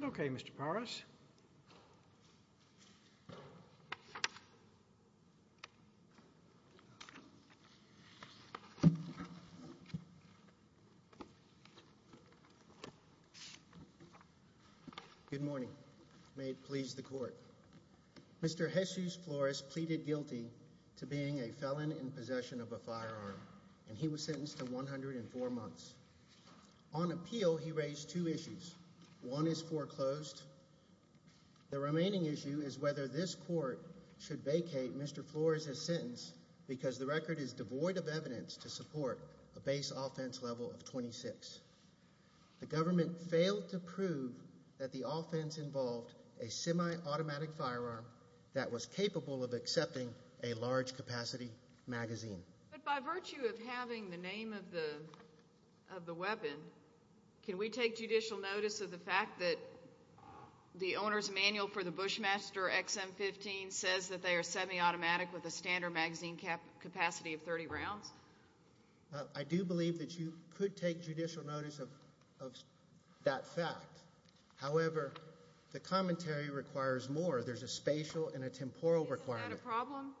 17 January 2021 Good morning. May it please the court. Mr. Jesus Flores pleaded guilty to being a felon in possession of a firearm, and he was sentenced to 104 months on appeal. He raised two issues. One is foreclosed. The remaining issue is whether this court should vacate Mr. Flores' sentence because the record is devoid of evidence to support a base offense level of 26. The government failed to prove that the offense involved a semi-automatic firearm that was capable of accepting a large capacity magazine. But by virtue of having the name of the weapon, can we take judicial notice of the fact that the owner's manual for the Bushmaster XM-15 says that they are semi-automatic with a standard magazine capacity of 30 rounds? I do believe that you could take judicial notice of that fact. However, the commentary requires more. There's a spatial and a temporal requirement. Is that a problem?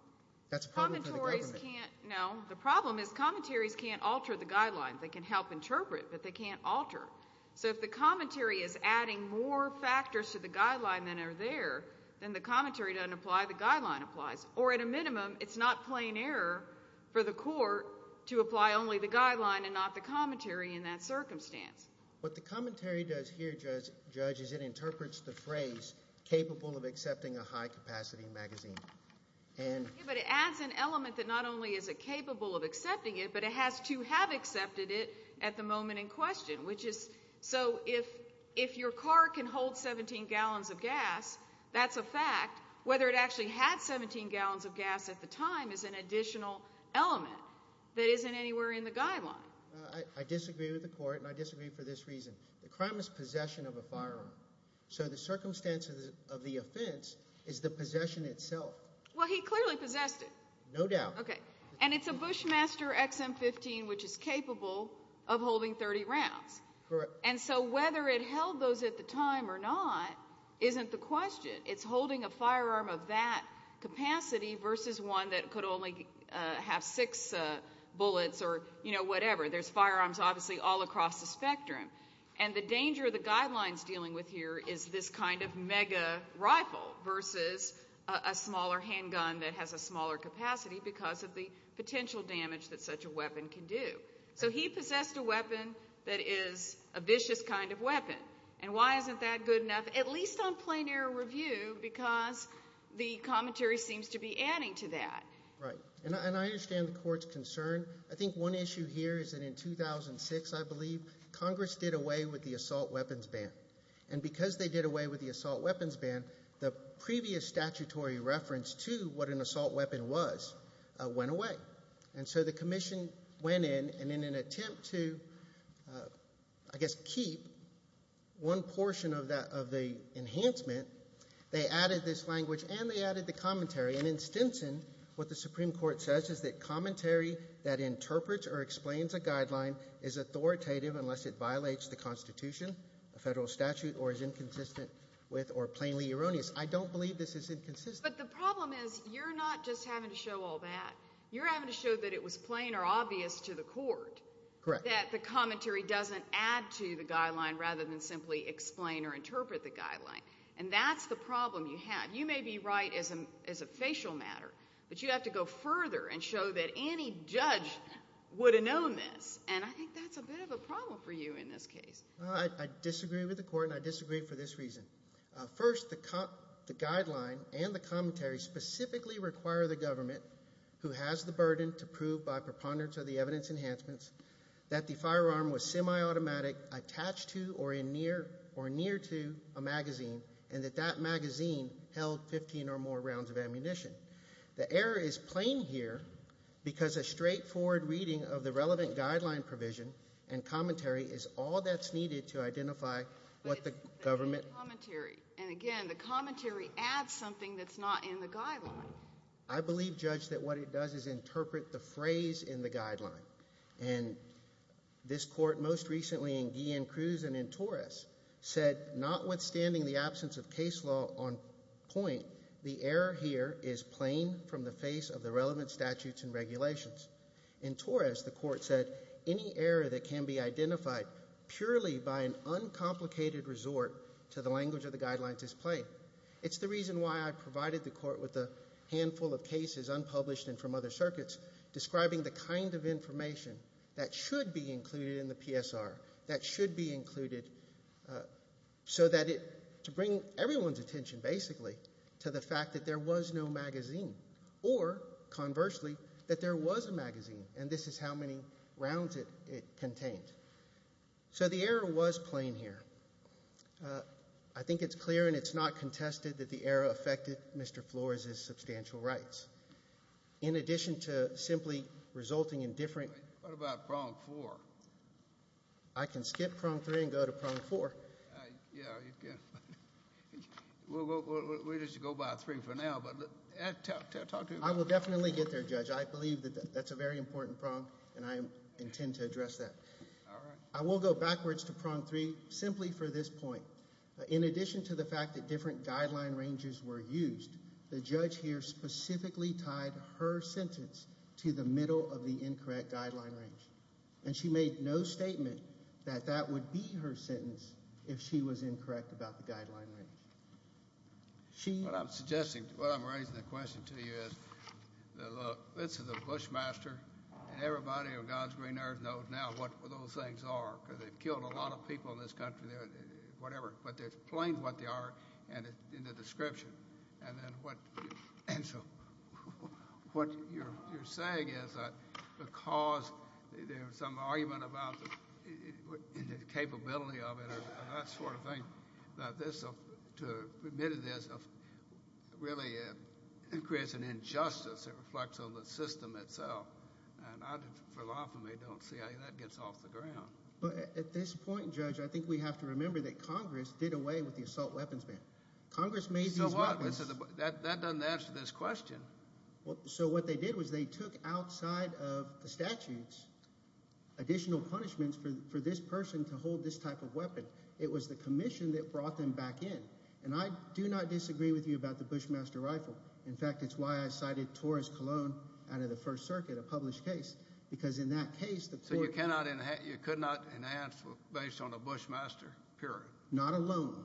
No. The problem is commentaries can't alter the guidelines. They can help interpret, but they can't alter. So if the commentary is adding more factors to the guideline than are there, then the commentary doesn't apply, the guideline applies. Or at a minimum, it's not plain error for the court to apply only the guideline and not the commentary in that circumstance. What the commentary does here, Judge, is it interprets the phrase, capable of accepting a high capacity magazine. But it adds an element that not only is it capable of accepting it, but it has to have accepted it at the moment in question. So if your car can hold 17 gallons of gas, that's a fact. Whether it actually had 17 gallons of gas at the time is an additional element that isn't anywhere in the guideline. I disagree with the court, and I disagree for this reason. The crime is possession of a firearm. So the circumstances of the offense is the possession itself. Well, he clearly possessed it. No doubt. Okay. And it's a Bushmaster XM-15, which is capable of holding 30 rounds. Correct. And so whether it held those at the time or not isn't the question. It's holding a firearm of that capacity versus one that could only have six bullets or, you know, whatever. There's firearms obviously all across the spectrum. And the danger of the guidelines dealing with here is this kind of mega rifle versus a smaller handgun that has a smaller capacity because of the potential damage that such a weapon can do. So he possessed a weapon that is a vicious kind of weapon. And why isn't that good enough, at least on plain air review, because the commentary seems to be adding to that. Right. And I understand the court's concern. I think one issue here is that in 2006, I believe, Congress did away with the assault weapons ban. And because they did away with the assault weapons ban, the previous statutory reference to what an assault weapon was went away. And so the commission went in and in an attempt to, I guess, keep one portion of the enhancement, they added this language and they added the commentary. And in Stinson, what the Supreme Court says is that commentary that interprets or explains a guideline is authoritative unless it violates the Constitution, a federal statute, or is inconsistent with or plainly erroneous. I don't believe this is inconsistent. But the problem is you're not just having to show all that. You're having to show that it was plain or obvious to the court that the commentary doesn't add to the guideline rather than simply explain or interpret the guideline. And that's the problem you have. You may be right as a facial matter, but you have to go further and show that any judge would have known this. And I think that's a bit of a problem for you in this case. I disagree with the court and I disagree for this reason. First, the guideline and the commentary specifically require the government, who has the burden to prove by preponderance of the evidence enhancements, that the firearm was semi-automatic, attached to or near to a magazine, and that that magazine held 15 or more rounds of ammunition. The error is plain here because a straightforward reading of the relevant guideline provision and commentary is all that's needed to identify what the government… But it's the commentary. And again, the commentary adds something that's not in the guideline. I believe, Judge, that what it does is interpret the phrase in the guideline. And this court most recently in Guillen-Cruz and in Torres said, notwithstanding the absence of case law on point, the error here is plain from the face of the relevant statutes and regulations. In Torres, the court said, any error that can be identified purely by an uncomplicated resort to the language of the guidelines is plain. It's the reason why I provided the court with a handful of cases, unpublished and from other circuits, describing the kind of information that should be included in the PSR, that should be included so that it… to bring everyone's attention basically to the fact that there was no magazine or, conversely, that there was a magazine. And this is how many rounds it contains. So the error was plain here. I think it's clear and it's not contested that the error affected Mr. Flores' substantial rights. In addition to simply resulting in different… What about prong four? I can skip prong three and go to prong four. Yeah, you can. We'll just go by three for now, but… I will definitely get there, Judge. I believe that that's a very important prong, and I intend to address that. I will go backwards to prong three simply for this point. In addition to the fact that different guideline ranges were used, the judge here specifically tied her sentence to the middle of the incorrect guideline range, and she made no statement that that would be her sentence if she was incorrect about the guideline range. What I'm suggesting, what I'm raising the question to you is, look, this is a Bushmaster, and everybody on God's green earth knows now what those things are because they've killed a lot of people in this country, whatever, but they explain what they are in the description. And so what you're saying is that because there's some argument about the capability of it and that sort of thing to admit it is really creates an injustice that reflects on the system itself, and I, for the life of me, don't see how that gets off the ground. But at this point, Judge, I think we have to remember that Congress did away with the assault weapons ban. Congress made these weapons. So what? That doesn't answer this question. So what they did was they took outside of the statutes additional punishments for this person to hold this type of weapon. It was the commission that brought them back in. And I do not disagree with you about the Bushmaster rifle. In fact, it's why I cited Torres Cologne out of the First Circuit, a published case, because in that case the court— So you could not enhance based on a Bushmaster, period. Not alone.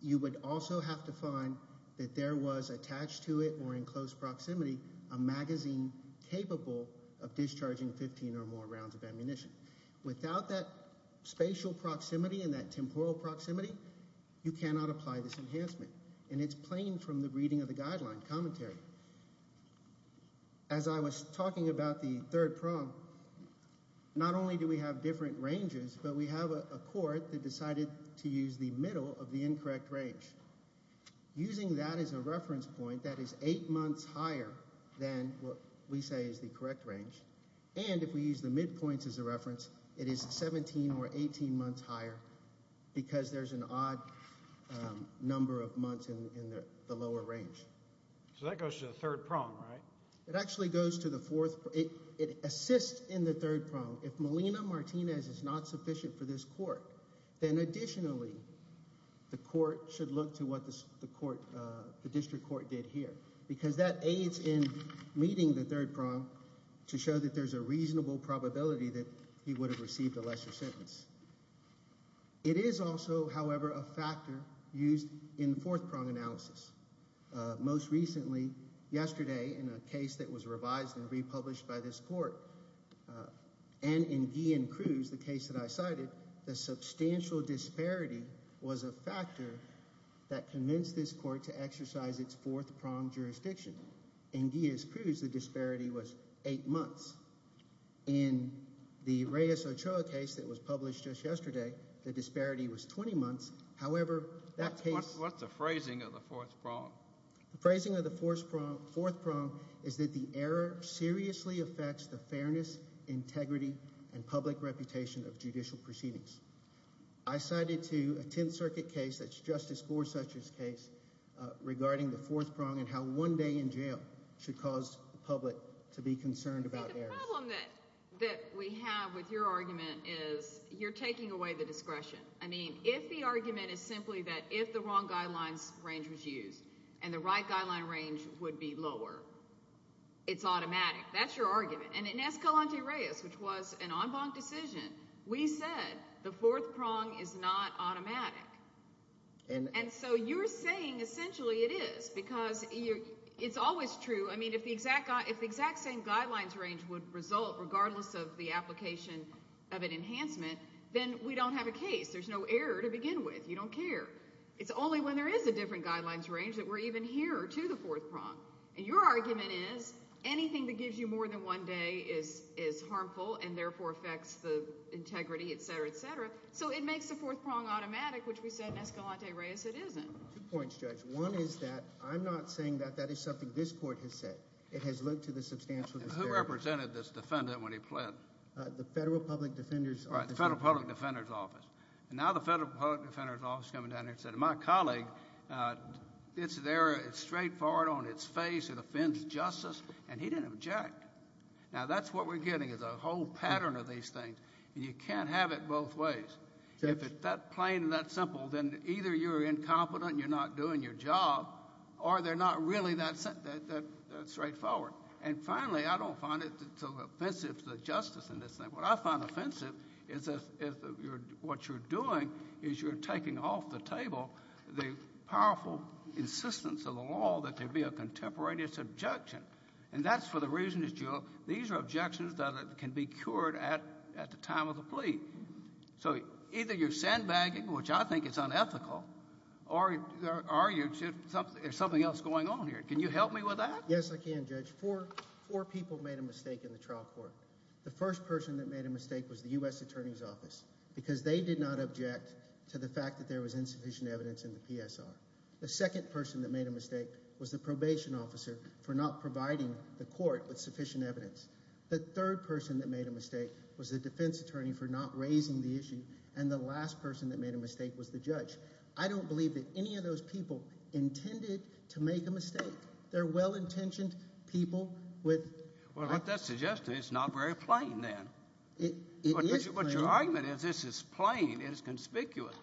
You would also have to find that there was attached to it or in close proximity a magazine capable of discharging 15 or more rounds of ammunition. Without that spatial proximity and that temporal proximity, you cannot apply this enhancement. And it's plain from the reading of the guideline commentary. As I was talking about the third prong, not only do we have different ranges, but we have a court that decided to use the middle of the incorrect range. Using that as a reference point, that is eight months higher than what we say is the correct range. And if we use the midpoints as a reference, it is 17 or 18 months higher because there's an odd number of months in the lower range. So that goes to the third prong, right? It actually goes to the fourth—it assists in the third prong. If Melina Martinez is not sufficient for this court, then additionally the court should look to what the district court did here because that aids in meeting the third prong to show that there's a reasonable probability that he would have received a lesser sentence. It is also, however, a factor used in fourth prong analysis. Most recently yesterday in a case that was revised and republished by this court and in Guillen-Cruz, the case that I cited, the substantial disparity was a factor that convinced this court to exercise its fourth prong jurisdiction. In Guillen-Cruz, the disparity was eight months. In the Reyes-Ochoa case that was published just yesterday, the disparity was 20 months. However, that case— What's the phrasing of the fourth prong? The phrasing of the fourth prong is that the error seriously affects the fairness, integrity, and public reputation of judicial proceedings. I cited to a Tenth Circuit case that's Justice Gorsuch's case regarding the fourth prong and how one day in jail should cause the public to be concerned about errors. The problem that we have with your argument is you're taking away the discretion. I mean, if the argument is simply that if the wrong guidelines range was used and the right guideline range would be lower, it's automatic. That's your argument. And in Escalante-Reyes, which was an en banc decision, we said the fourth prong is not automatic. And so you're saying essentially it is because it's always true. I mean, if the exact same guidelines range would result regardless of the application of an enhancement, then we don't have a case. There's no error to begin with. You don't care. It's only when there is a different guidelines range that we're even here to the fourth prong. And your argument is anything that gives you more than one day is harmful and therefore affects the integrity, et cetera, et cetera. So it makes the fourth prong automatic, which we said in Escalante-Reyes it isn't. Two points, Judge. One is that I'm not saying that that is something this court has said. It has looked to the substantial disparity. Who represented this defendant when he pled? The Federal Public Defender's Office. Right, the Federal Public Defender's Office. And now the Federal Public Defender's Office is coming down here and saying, my colleague, it's there, it's straightforward on its face, it offends justice, and he didn't object. Now, that's what we're getting is a whole pattern of these things. And you can't have it both ways. If it's that plain and that simple, then either you're incompetent and you're not doing your job or they're not really that straightforward. And finally, I don't find it offensive to the justice in this thing. What I find offensive is what you're doing is you're taking off the table the powerful insistence of the law that there be a contemporaneous objection. And that's for the reason that these are objections that can be cured at the time of the plea. So either you're sandbagging, which I think is unethical, or there's something else going on here. Can you help me with that? Yes, I can, Judge. Four people made a mistake in the trial court. The first person that made a mistake was the U.S. Attorney's Office because they did not object to the fact that there was insufficient evidence in the PSR. The second person that made a mistake was the probation officer for not providing the court with sufficient evidence. The third person that made a mistake was the defense attorney for not raising the issue, and the last person that made a mistake was the judge. I don't believe that any of those people intended to make a mistake. They're well-intentioned people with— Well, what that suggests is it's not very plain then. It is plain. But your argument is this is plain. It is conspicuous.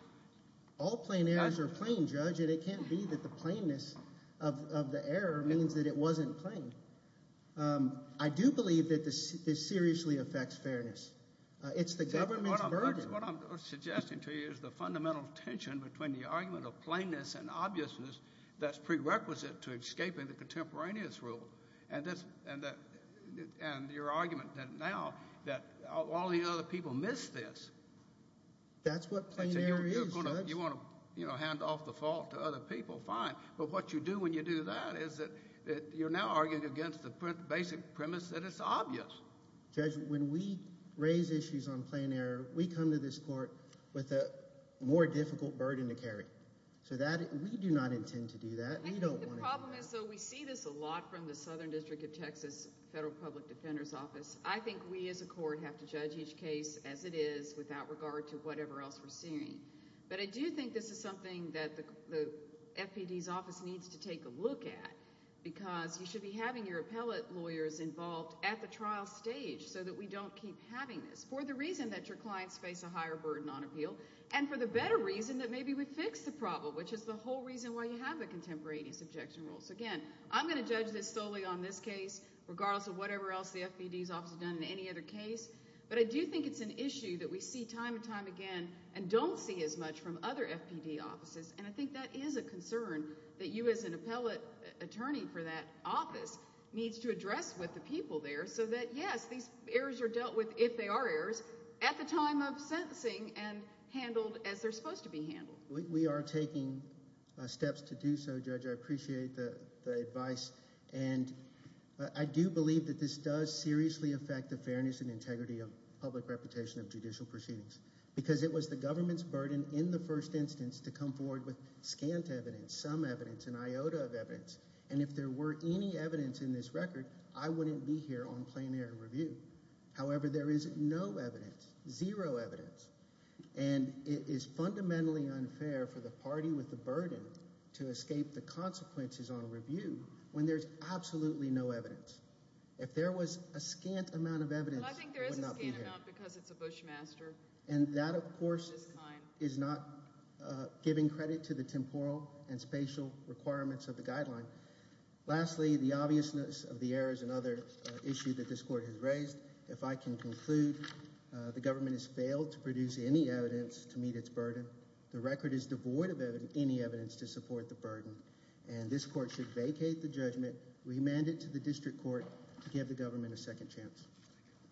All plain errors are plain, Judge, and it can't be that the plainness of the error means that it wasn't plain. I do believe that this seriously affects fairness. It's the government's burden. What I'm suggesting to you is the fundamental tension between the argument of plainness and obviousness that's prerequisite to escaping the contemporaneous rule. And your argument now that all the other people missed this. That's what plain error is, Judge. You want to hand off the fault to other people, fine. But what you do when you do that is that you're now arguing against the basic premise that it's obvious. Judge, when we raise issues on plain error, we come to this court with a more difficult burden to carry. So we do not intend to do that. The problem is, though, we see this a lot from the Southern District of Texas Federal Public Defender's Office. I think we as a court have to judge each case as it is without regard to whatever else we're seeing. But I do think this is something that the FPD's office needs to take a look at because you should be having your appellate lawyers involved at the trial stage so that we don't keep having this for the reason that your clients face a higher burden on appeal and for the better reason that maybe we fix the problem, which is the whole reason why you have the contemporaneous objection rules. Again, I'm going to judge this solely on this case regardless of whatever else the FPD's office has done in any other case. But I do think it's an issue that we see time and time again and don't see as much from other FPD offices. And I think that is a concern that you as an appellate attorney for that office needs to address with the people there so that, yes, these errors are dealt with if they are errors at the time of sentencing and handled as they're supposed to be handled. We are taking steps to do so, Judge. I appreciate the advice. And I do believe that this does seriously affect the fairness and integrity of public reputation of judicial proceedings because it was the government's burden in the first instance to come forward with scant evidence, some evidence, an iota of evidence. And if there were any evidence in this record, I wouldn't be here on plenary review. However, there is no evidence, zero evidence. And it is fundamentally unfair for the party with the burden to escape the consequences on review when there's absolutely no evidence. If there was a scant amount of evidence, I would not be here. But I think there is a scant amount because it's a Bushmaster of this kind. And that, of course, is not giving credit to the temporal and spatial requirements of the guideline. Lastly, the obviousness of the errors and other issues that this court has raised. If I can conclude, the government has failed to produce any evidence to meet its burden. The record is devoid of any evidence to support the burden. And this court should vacate the judgment, remand it to the district court to give the government a second chance.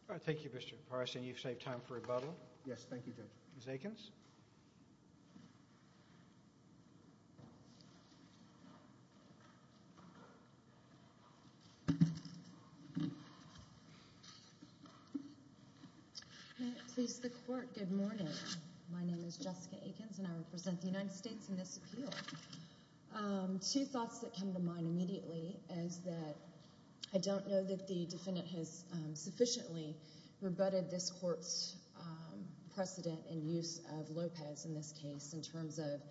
All right. Thank you, Mr. Parson. You've saved time for rebuttal. Yes, thank you, Judge. Ms. Akins? May it please the court, good morning. My name is Jessica Akins, and I represent the United States in this appeal. Two thoughts that come to mind immediately is that I don't know that the defendant has sufficiently rebutted this court's precedent in use of Lopez in this case, in terms of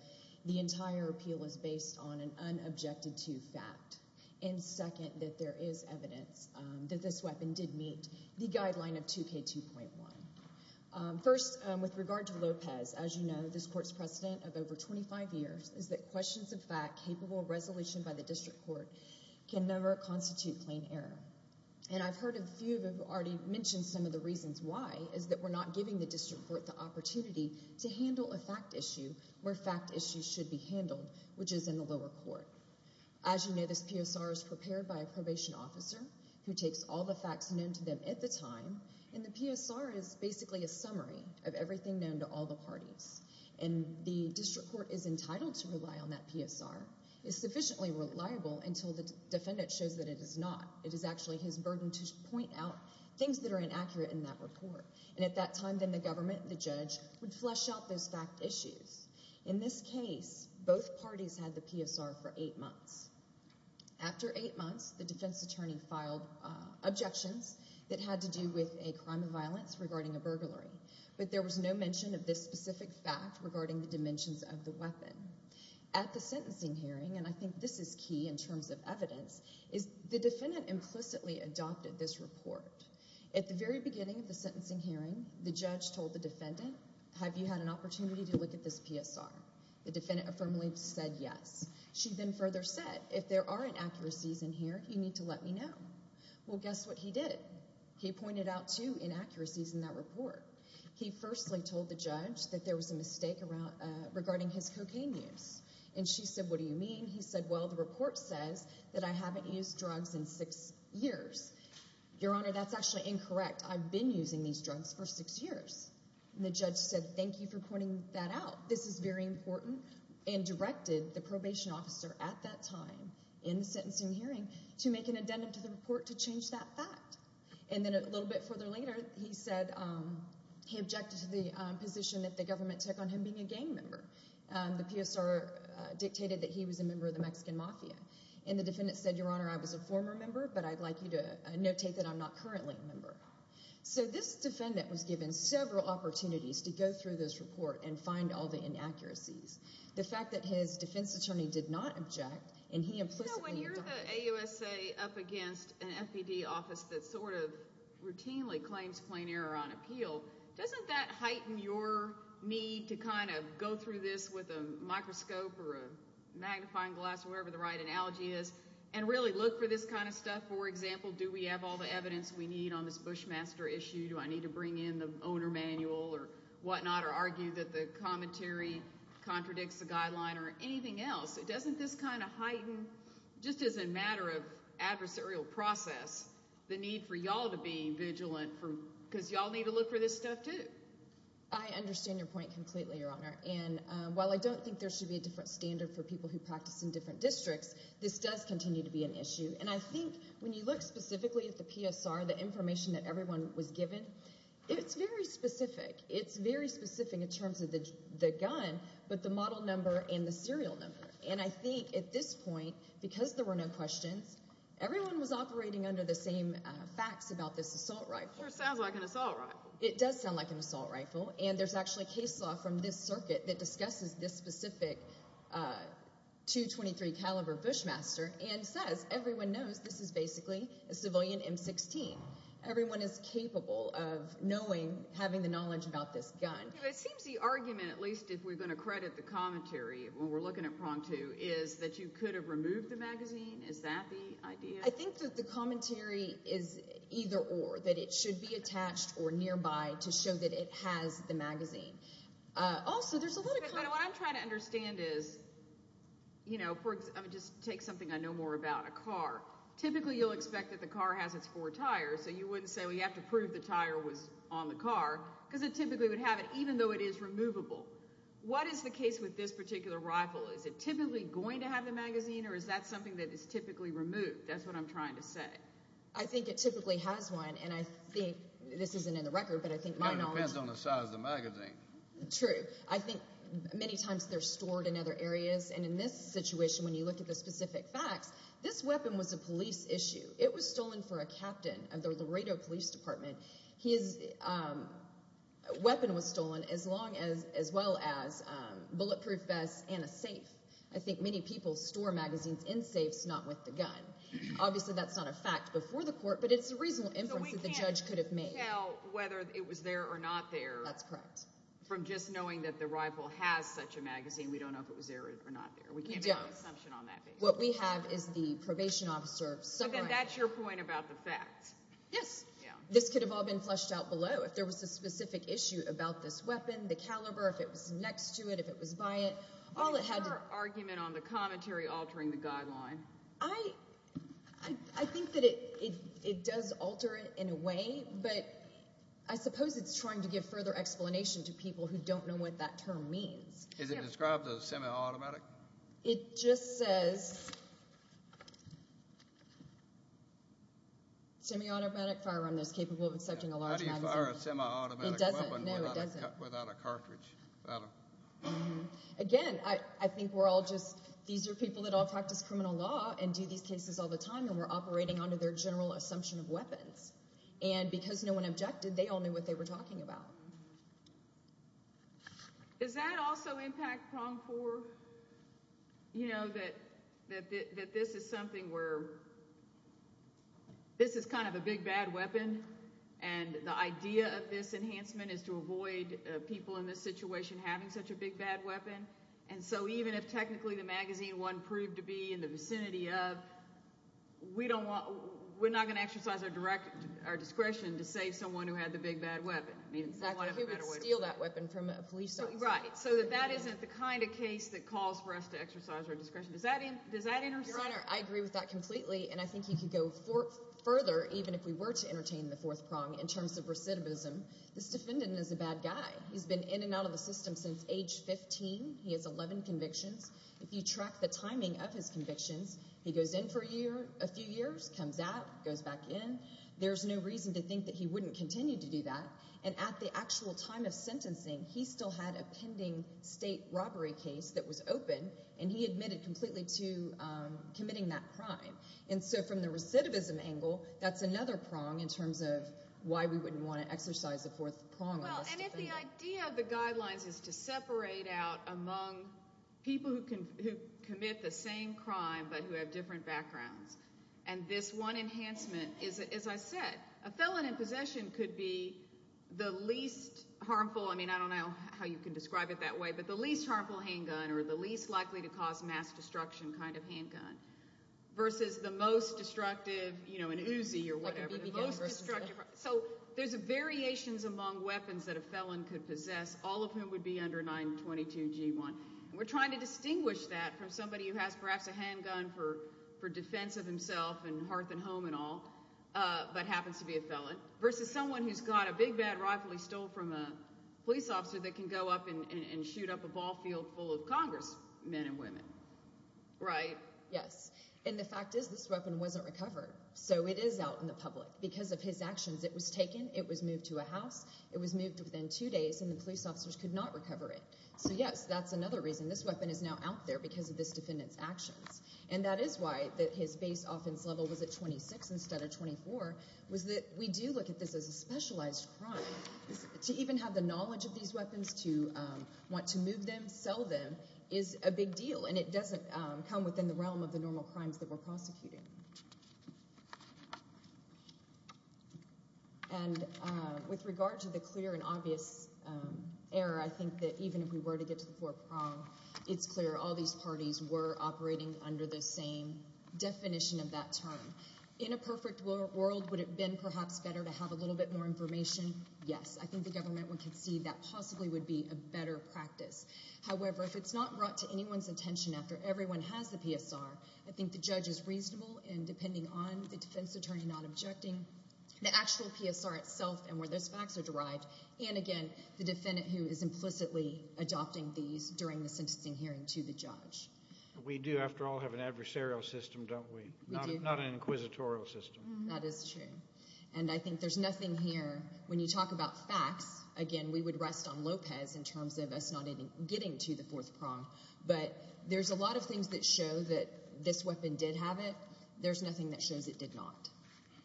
the entire appeal is based on an unobjected-to fact. And second, that there is evidence that this weapon did meet the guideline of 2K2.1. First, with regard to Lopez, as you know, this court's precedent of over 25 years is that questions of fact capable of resolution by the district court can never constitute plain error. And I've heard a few who have already mentioned some of the reasons why, is that we're not giving the district court the opportunity to handle a fact issue where fact issues should be handled, which is in the lower court. As you know, this PSR is prepared by a probation officer who takes all the facts known to them at the time, and the PSR is basically a summary of everything known to all the parties. And the district court is entitled to rely on that PSR. It's sufficiently reliable until the defendant shows that it is not. It is actually his burden to point out things that are inaccurate in that report. And at that time, then the government, the judge, would flesh out those fact issues. In this case, both parties had the PSR for eight months. After eight months, the defense attorney filed objections that had to do with a crime of violence regarding a burglary. But there was no mention of this specific fact regarding the dimensions of the weapon. At the sentencing hearing, and I think this is key in terms of evidence, is the defendant implicitly adopted this report. At the very beginning of the sentencing hearing, the judge told the defendant, have you had an opportunity to look at this PSR? The defendant affirmatively said yes. She then further said, if there are inaccuracies in here, you need to let me know. Well, guess what he did? He pointed out two inaccuracies in that report. He firstly told the judge that there was a mistake regarding his cocaine use. And she said, what do you mean? He said, well, the report says that I haven't used drugs in six years. Your Honor, that's actually incorrect. I've been using these drugs for six years. And the judge said, thank you for pointing that out. This is very important, and directed the probation officer at that time in the sentencing hearing to make an addendum to the report to change that fact. And then a little bit further later, he said he objected to the position that the government took on him being a gang member. The PSR dictated that he was a member of the Mexican Mafia. And the defendant said, Your Honor, I was a former member, but I'd like you to notate that I'm not currently a member. So this defendant was given several opportunities to go through this report and find all the inaccuracies. The fact that his defense attorney did not object, and he implicitly denied it. So when you're the AUSA up against an FPD office that sort of routinely claims plain error on appeal, doesn't that heighten your need to kind of go through this with a microscope or a magnifying glass, wherever the right analogy is, and really look for this kind of stuff? For example, do we have all the evidence we need on this Bushmaster issue? Do I need to bring in the owner manual or whatnot or argue that the commentary contradicts the guideline or anything else? Doesn't this kind of heighten, just as a matter of adversarial process, the need for y'all to be vigilant? Because y'all need to look for this stuff too. I understand your point completely, Your Honor. And while I don't think there should be a different standard for people who practice in different districts, this does continue to be an issue. And I think when you look specifically at the PSR, the information that everyone was given, it's very specific. It's very specific in terms of the gun, but the model number and the serial number. And I think at this point, because there were no questions, everyone was operating under the same facts about this assault rifle. Sure sounds like an assault rifle. It does sound like an assault rifle. And there's actually case law from this circuit that discusses this specific .223 caliber Bushmaster and says everyone knows this is basically a civilian M16. Everyone is capable of knowing, having the knowledge about this gun. It seems the argument, at least if we're going to credit the commentary when we're looking at prong two, is that you could have removed the magazine. Is that the idea? I think that the commentary is either or, that it should be attached or nearby to show that it has the magazine. Also, there's a lot of kind of— What I'm trying to understand is, you know, just take something I know more about, a car. Typically, you'll expect that the car has its four tires, so you wouldn't say, well, you have to prove the tire was on the car because it typically would have it, even though it is removable. What is the case with this particular rifle? Is it typically going to have the magazine, or is that something that is typically removed? That's what I'm trying to say. I think it typically has one, and I think—this isn't in the record, but I think my knowledge— It depends on the size of the magazine. True. I think many times they're stored in other areas, and in this situation, when you look at the specific facts, this weapon was a police issue. It was stolen for a captain of the Laredo Police Department. His weapon was stolen, as well as bulletproof vests and a safe. I think many people store magazines in safes, not with the gun. Obviously, that's not a fact before the court, but it's a reasonable inference that the judge could have made. So we can't tell whether it was there or not there— That's correct. —from just knowing that the rifle has such a magazine. We don't know if it was there or not there. We can't make an assumption on that basis. What we have is the probation officer— But then that's your point about the fact. Yes. This could have all been fleshed out below. If there was a specific issue about this weapon, the caliber, if it was next to it, if it was by it, all it had to— Is your argument on the commentary altering the guideline? I think that it does alter it in a way, but I suppose it's trying to give further explanation to people who don't know what that term means. Is it described as semi-automatic? It just says semi-automatic firearm that's capable of accepting a large magazine. How do you fire a semi-automatic weapon without a cartridge? Again, I think we're all just—these are people that all practice criminal law and do these cases all the time, and we're operating under their general assumption of weapons. And because no one objected, they all knew what they were talking about. Is that also impact pronged for that this is something where this is kind of a big, bad weapon, and the idea of this enhancement is to avoid people in this situation having such a big, bad weapon? And so even if technically the magazine wasn't proved to be in the vicinity of, we're not going to exercise our discretion to save someone who had the big, bad weapon. Exactly, who would steal that weapon from a police officer? Right, so that that isn't the kind of case that calls for us to exercise our discretion. Does that intersect? Your Honor, I agree with that completely, and I think you could go further, even if we were to entertain the fourth prong in terms of recidivism. This defendant is a bad guy. He's been in and out of the system since age 15. He has 11 convictions. If you track the timing of his convictions, he goes in for a few years, comes out, goes back in. There's no reason to think that he wouldn't continue to do that. And at the actual time of sentencing, he still had a pending state robbery case that was open, and he admitted completely to committing that crime. And so from the recidivism angle, that's another prong in terms of why we wouldn't want to exercise the fourth prong on this defendant. And if the idea of the guidelines is to separate out among people who commit the same crime but who have different backgrounds, and this one enhancement is, as I said, a felon in possession could be the least harmful. I mean, I don't know how you can describe it that way, but the least harmful handgun or the least likely to cause mass destruction kind of handgun versus the most destructive, you know, an Uzi or whatever, the most destructive. So there's variations among weapons that a felon could possess, all of whom would be under 922 G1. We're trying to distinguish that from somebody who has perhaps a handgun for defense of himself and hearth and home and all but happens to be a felon versus someone who's got a big, bad rifle he stole from a police officer that can go up and shoot up a ball field full of congressmen and women, right? Yes, and the fact is this weapon wasn't recovered, so it is out in the public. Because of his actions, it was taken, it was moved to a house, it was moved within two days, and the police officers could not recover it. So, yes, that's another reason. This weapon is now out there because of this defendant's actions. And that is why his base offense level was at 26 instead of 24, was that we do look at this as a specialized crime. To even have the knowledge of these weapons, to want to move them, sell them, is a big deal, and it doesn't come within the realm of the normal crimes that we're prosecuting. And with regard to the clear and obvious error, I think that even if we were to get to the four prong, it's clear all these parties were operating under the same definition of that term. In a perfect world, would it have been perhaps better to have a little bit more information? Yes, I think the government would concede that possibly would be a better practice. However, if it's not brought to anyone's attention after everyone has the PSR, I think the judge is reasonable in, depending on the defense attorney not objecting, the actual PSR itself and where those facts are derived, and, again, the defendant who is implicitly adopting these during the sentencing hearing to the judge. We do, after all, have an adversarial system, don't we? We do. Not an inquisitorial system. That is true. And I think there's nothing here, when you talk about facts, again, we would rest on Lopez in terms of us not even getting to the fourth prong. But there's a lot of things that show that this weapon did have it. There's nothing that shows it did not.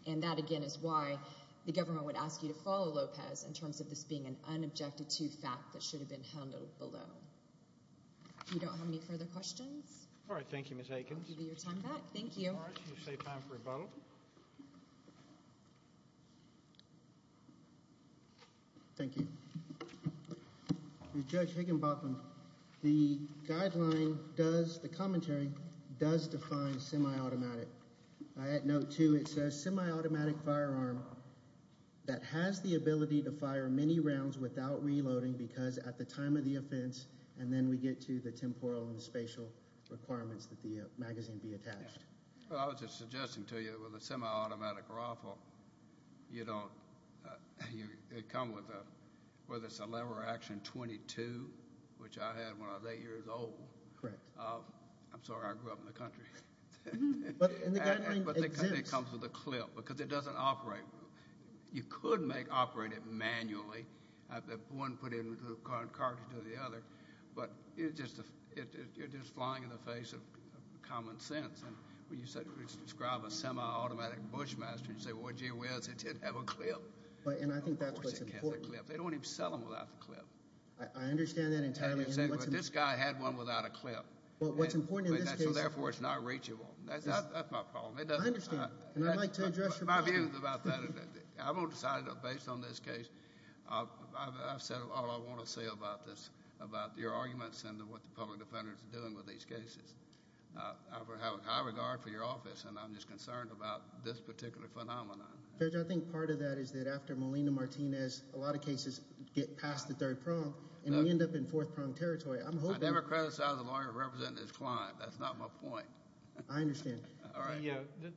And that, again, is why the government would ask you to follow Lopez in terms of this being an unobjected to fact that should have been handled below. If you don't have any further questions. All right. Thank you, Ms. Higgins. I'll give you your time back. Thank you. All right. We'll save time for a vote. Thank you. Judge Higginbotham, the guideline does, the commentary, does define semi-automatic. Note, too, it says semi-automatic firearm that has the ability to fire many rounds without reloading because at the time of the offense and then we get to the temporal and the spatial requirements that the magazine be attached. Well, I was just suggesting to you with a semi-automatic rifle, you don't, it comes with a, whether it's a lever action 22, which I had when I was eight years old. Correct. I'm sorry. I grew up in the country. And the guideline exists. But it comes with a clip because it doesn't operate. You could make operate it manually. One put in the cartridge to the other. But you're just flying in the face of common sense. And when you describe a semi-automatic Bushmaster, you say, well, gee whiz, it didn't have a clip. And I think that's what's important. They don't even sell them without the clip. I understand that entirely. But this guy had one without a clip. Well, what's important in this case. So, therefore, it's not reachable. That's my problem. I understand. And I'd like to address your problem. My view is about that. I won't decide it based on this case. I've said all I want to say about this, about your arguments and what the public defenders are doing with these cases. I have a high regard for your office. And I'm just concerned about this particular phenomenon. Judge, I think part of that is that after Molina Martinez, a lot of cases get past the third prong. And we end up in fourth prong territory. I'm hoping... I never criticized a lawyer representing his client. That's not my point. I understand. All right.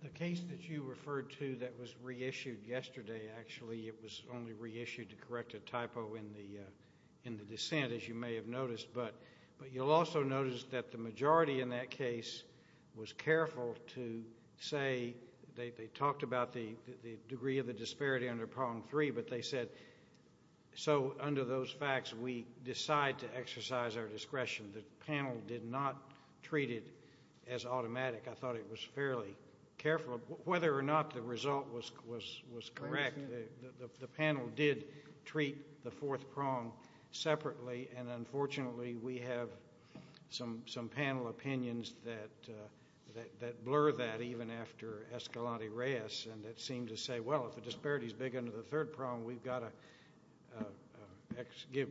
The case that you referred to that was reissued yesterday, actually, it was only reissued to correct a typo in the dissent, as you may have noticed. But you'll also notice that the majority in that case was careful to say... They talked about the degree of the disparity under prong three. But they said, so, under those facts, we decide to exercise our discretion. The panel did not treat it as automatic. I thought it was fairly careful. Whether or not the result was correct, the panel did treat the fourth prong separately. And, unfortunately, we have some panel opinions that blur that, even after Escalante-Reyes, and that seem to say, well, if the disparity is big under the third prong, we've got to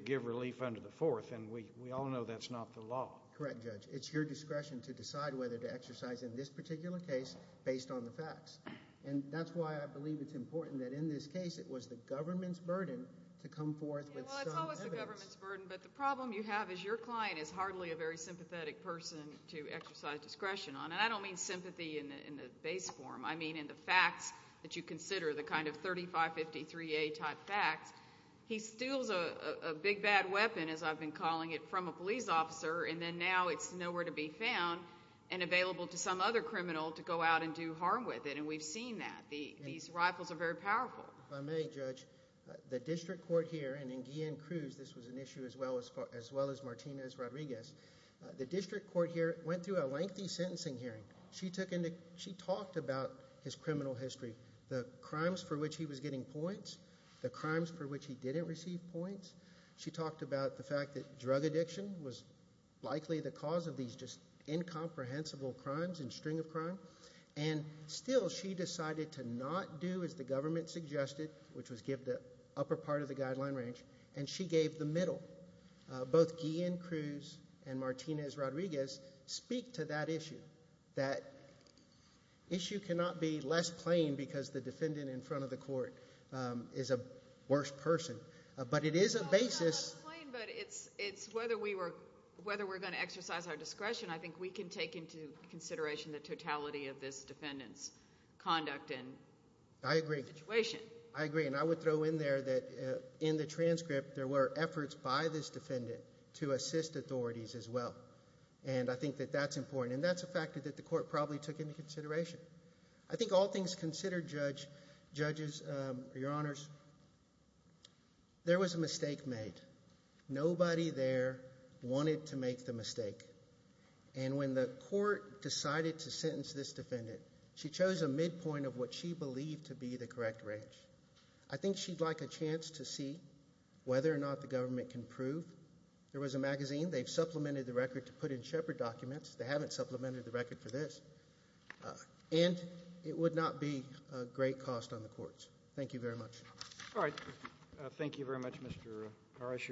give relief under the fourth. And we all know that's not the law. Correct, Judge. It's your discretion to decide whether to exercise in this particular case based on the facts. And that's why I believe it's important that in this case it was the government's burden to come forth with some evidence. Well, it's always the government's burden. But the problem you have is your client is hardly a very sympathetic person to exercise discretion on. And I don't mean sympathy in the base form. I mean in the facts that you consider, the kind of 3553A type facts. He steals a big, bad weapon, as I've been calling it, from a police officer, and then now it's nowhere to be found and available to some other criminal to go out and do harm with it. And we've seen that. These rifles are very powerful. If I may, Judge, the district court here, and in Guillen-Cruz this was an issue as well as Martinez-Rodriguez, the district court here went through a lengthy sentencing hearing. She talked about his criminal history, the crimes for which he was getting points, the crimes for which he didn't receive points. She talked about the fact that drug addiction was likely the cause of these just incomprehensible crimes and string of crime. And still she decided to not do as the government suggested, which was give the upper part of the guideline range, and she gave the middle. Both Guillen-Cruz and Martinez-Rodriguez speak to that issue. That issue cannot be less plain because the defendant in front of the court is a worse person. But it is a basis. It's not less plain, but it's whether we're going to exercise our discretion. I think we can take into consideration the totality of this defendant's conduct and situation. I agree, and I would throw in there that in the transcript there were efforts by this defendant to assist authorities as well, and I think that that's important, and that's a factor that the court probably took into consideration. I think all things considered, judges, your honors, there was a mistake made. Nobody there wanted to make the mistake, and when the court decided to sentence this defendant, she chose a midpoint of what she believed to be the correct range. I think she'd like a chance to see whether or not the government can prove. There was a magazine. They've supplemented the record to put in Shepard documents. They haven't supplemented the record for this, and it would not be a great cost on the courts. Thank you very much. All right. Thank you very much, Mr. Harris.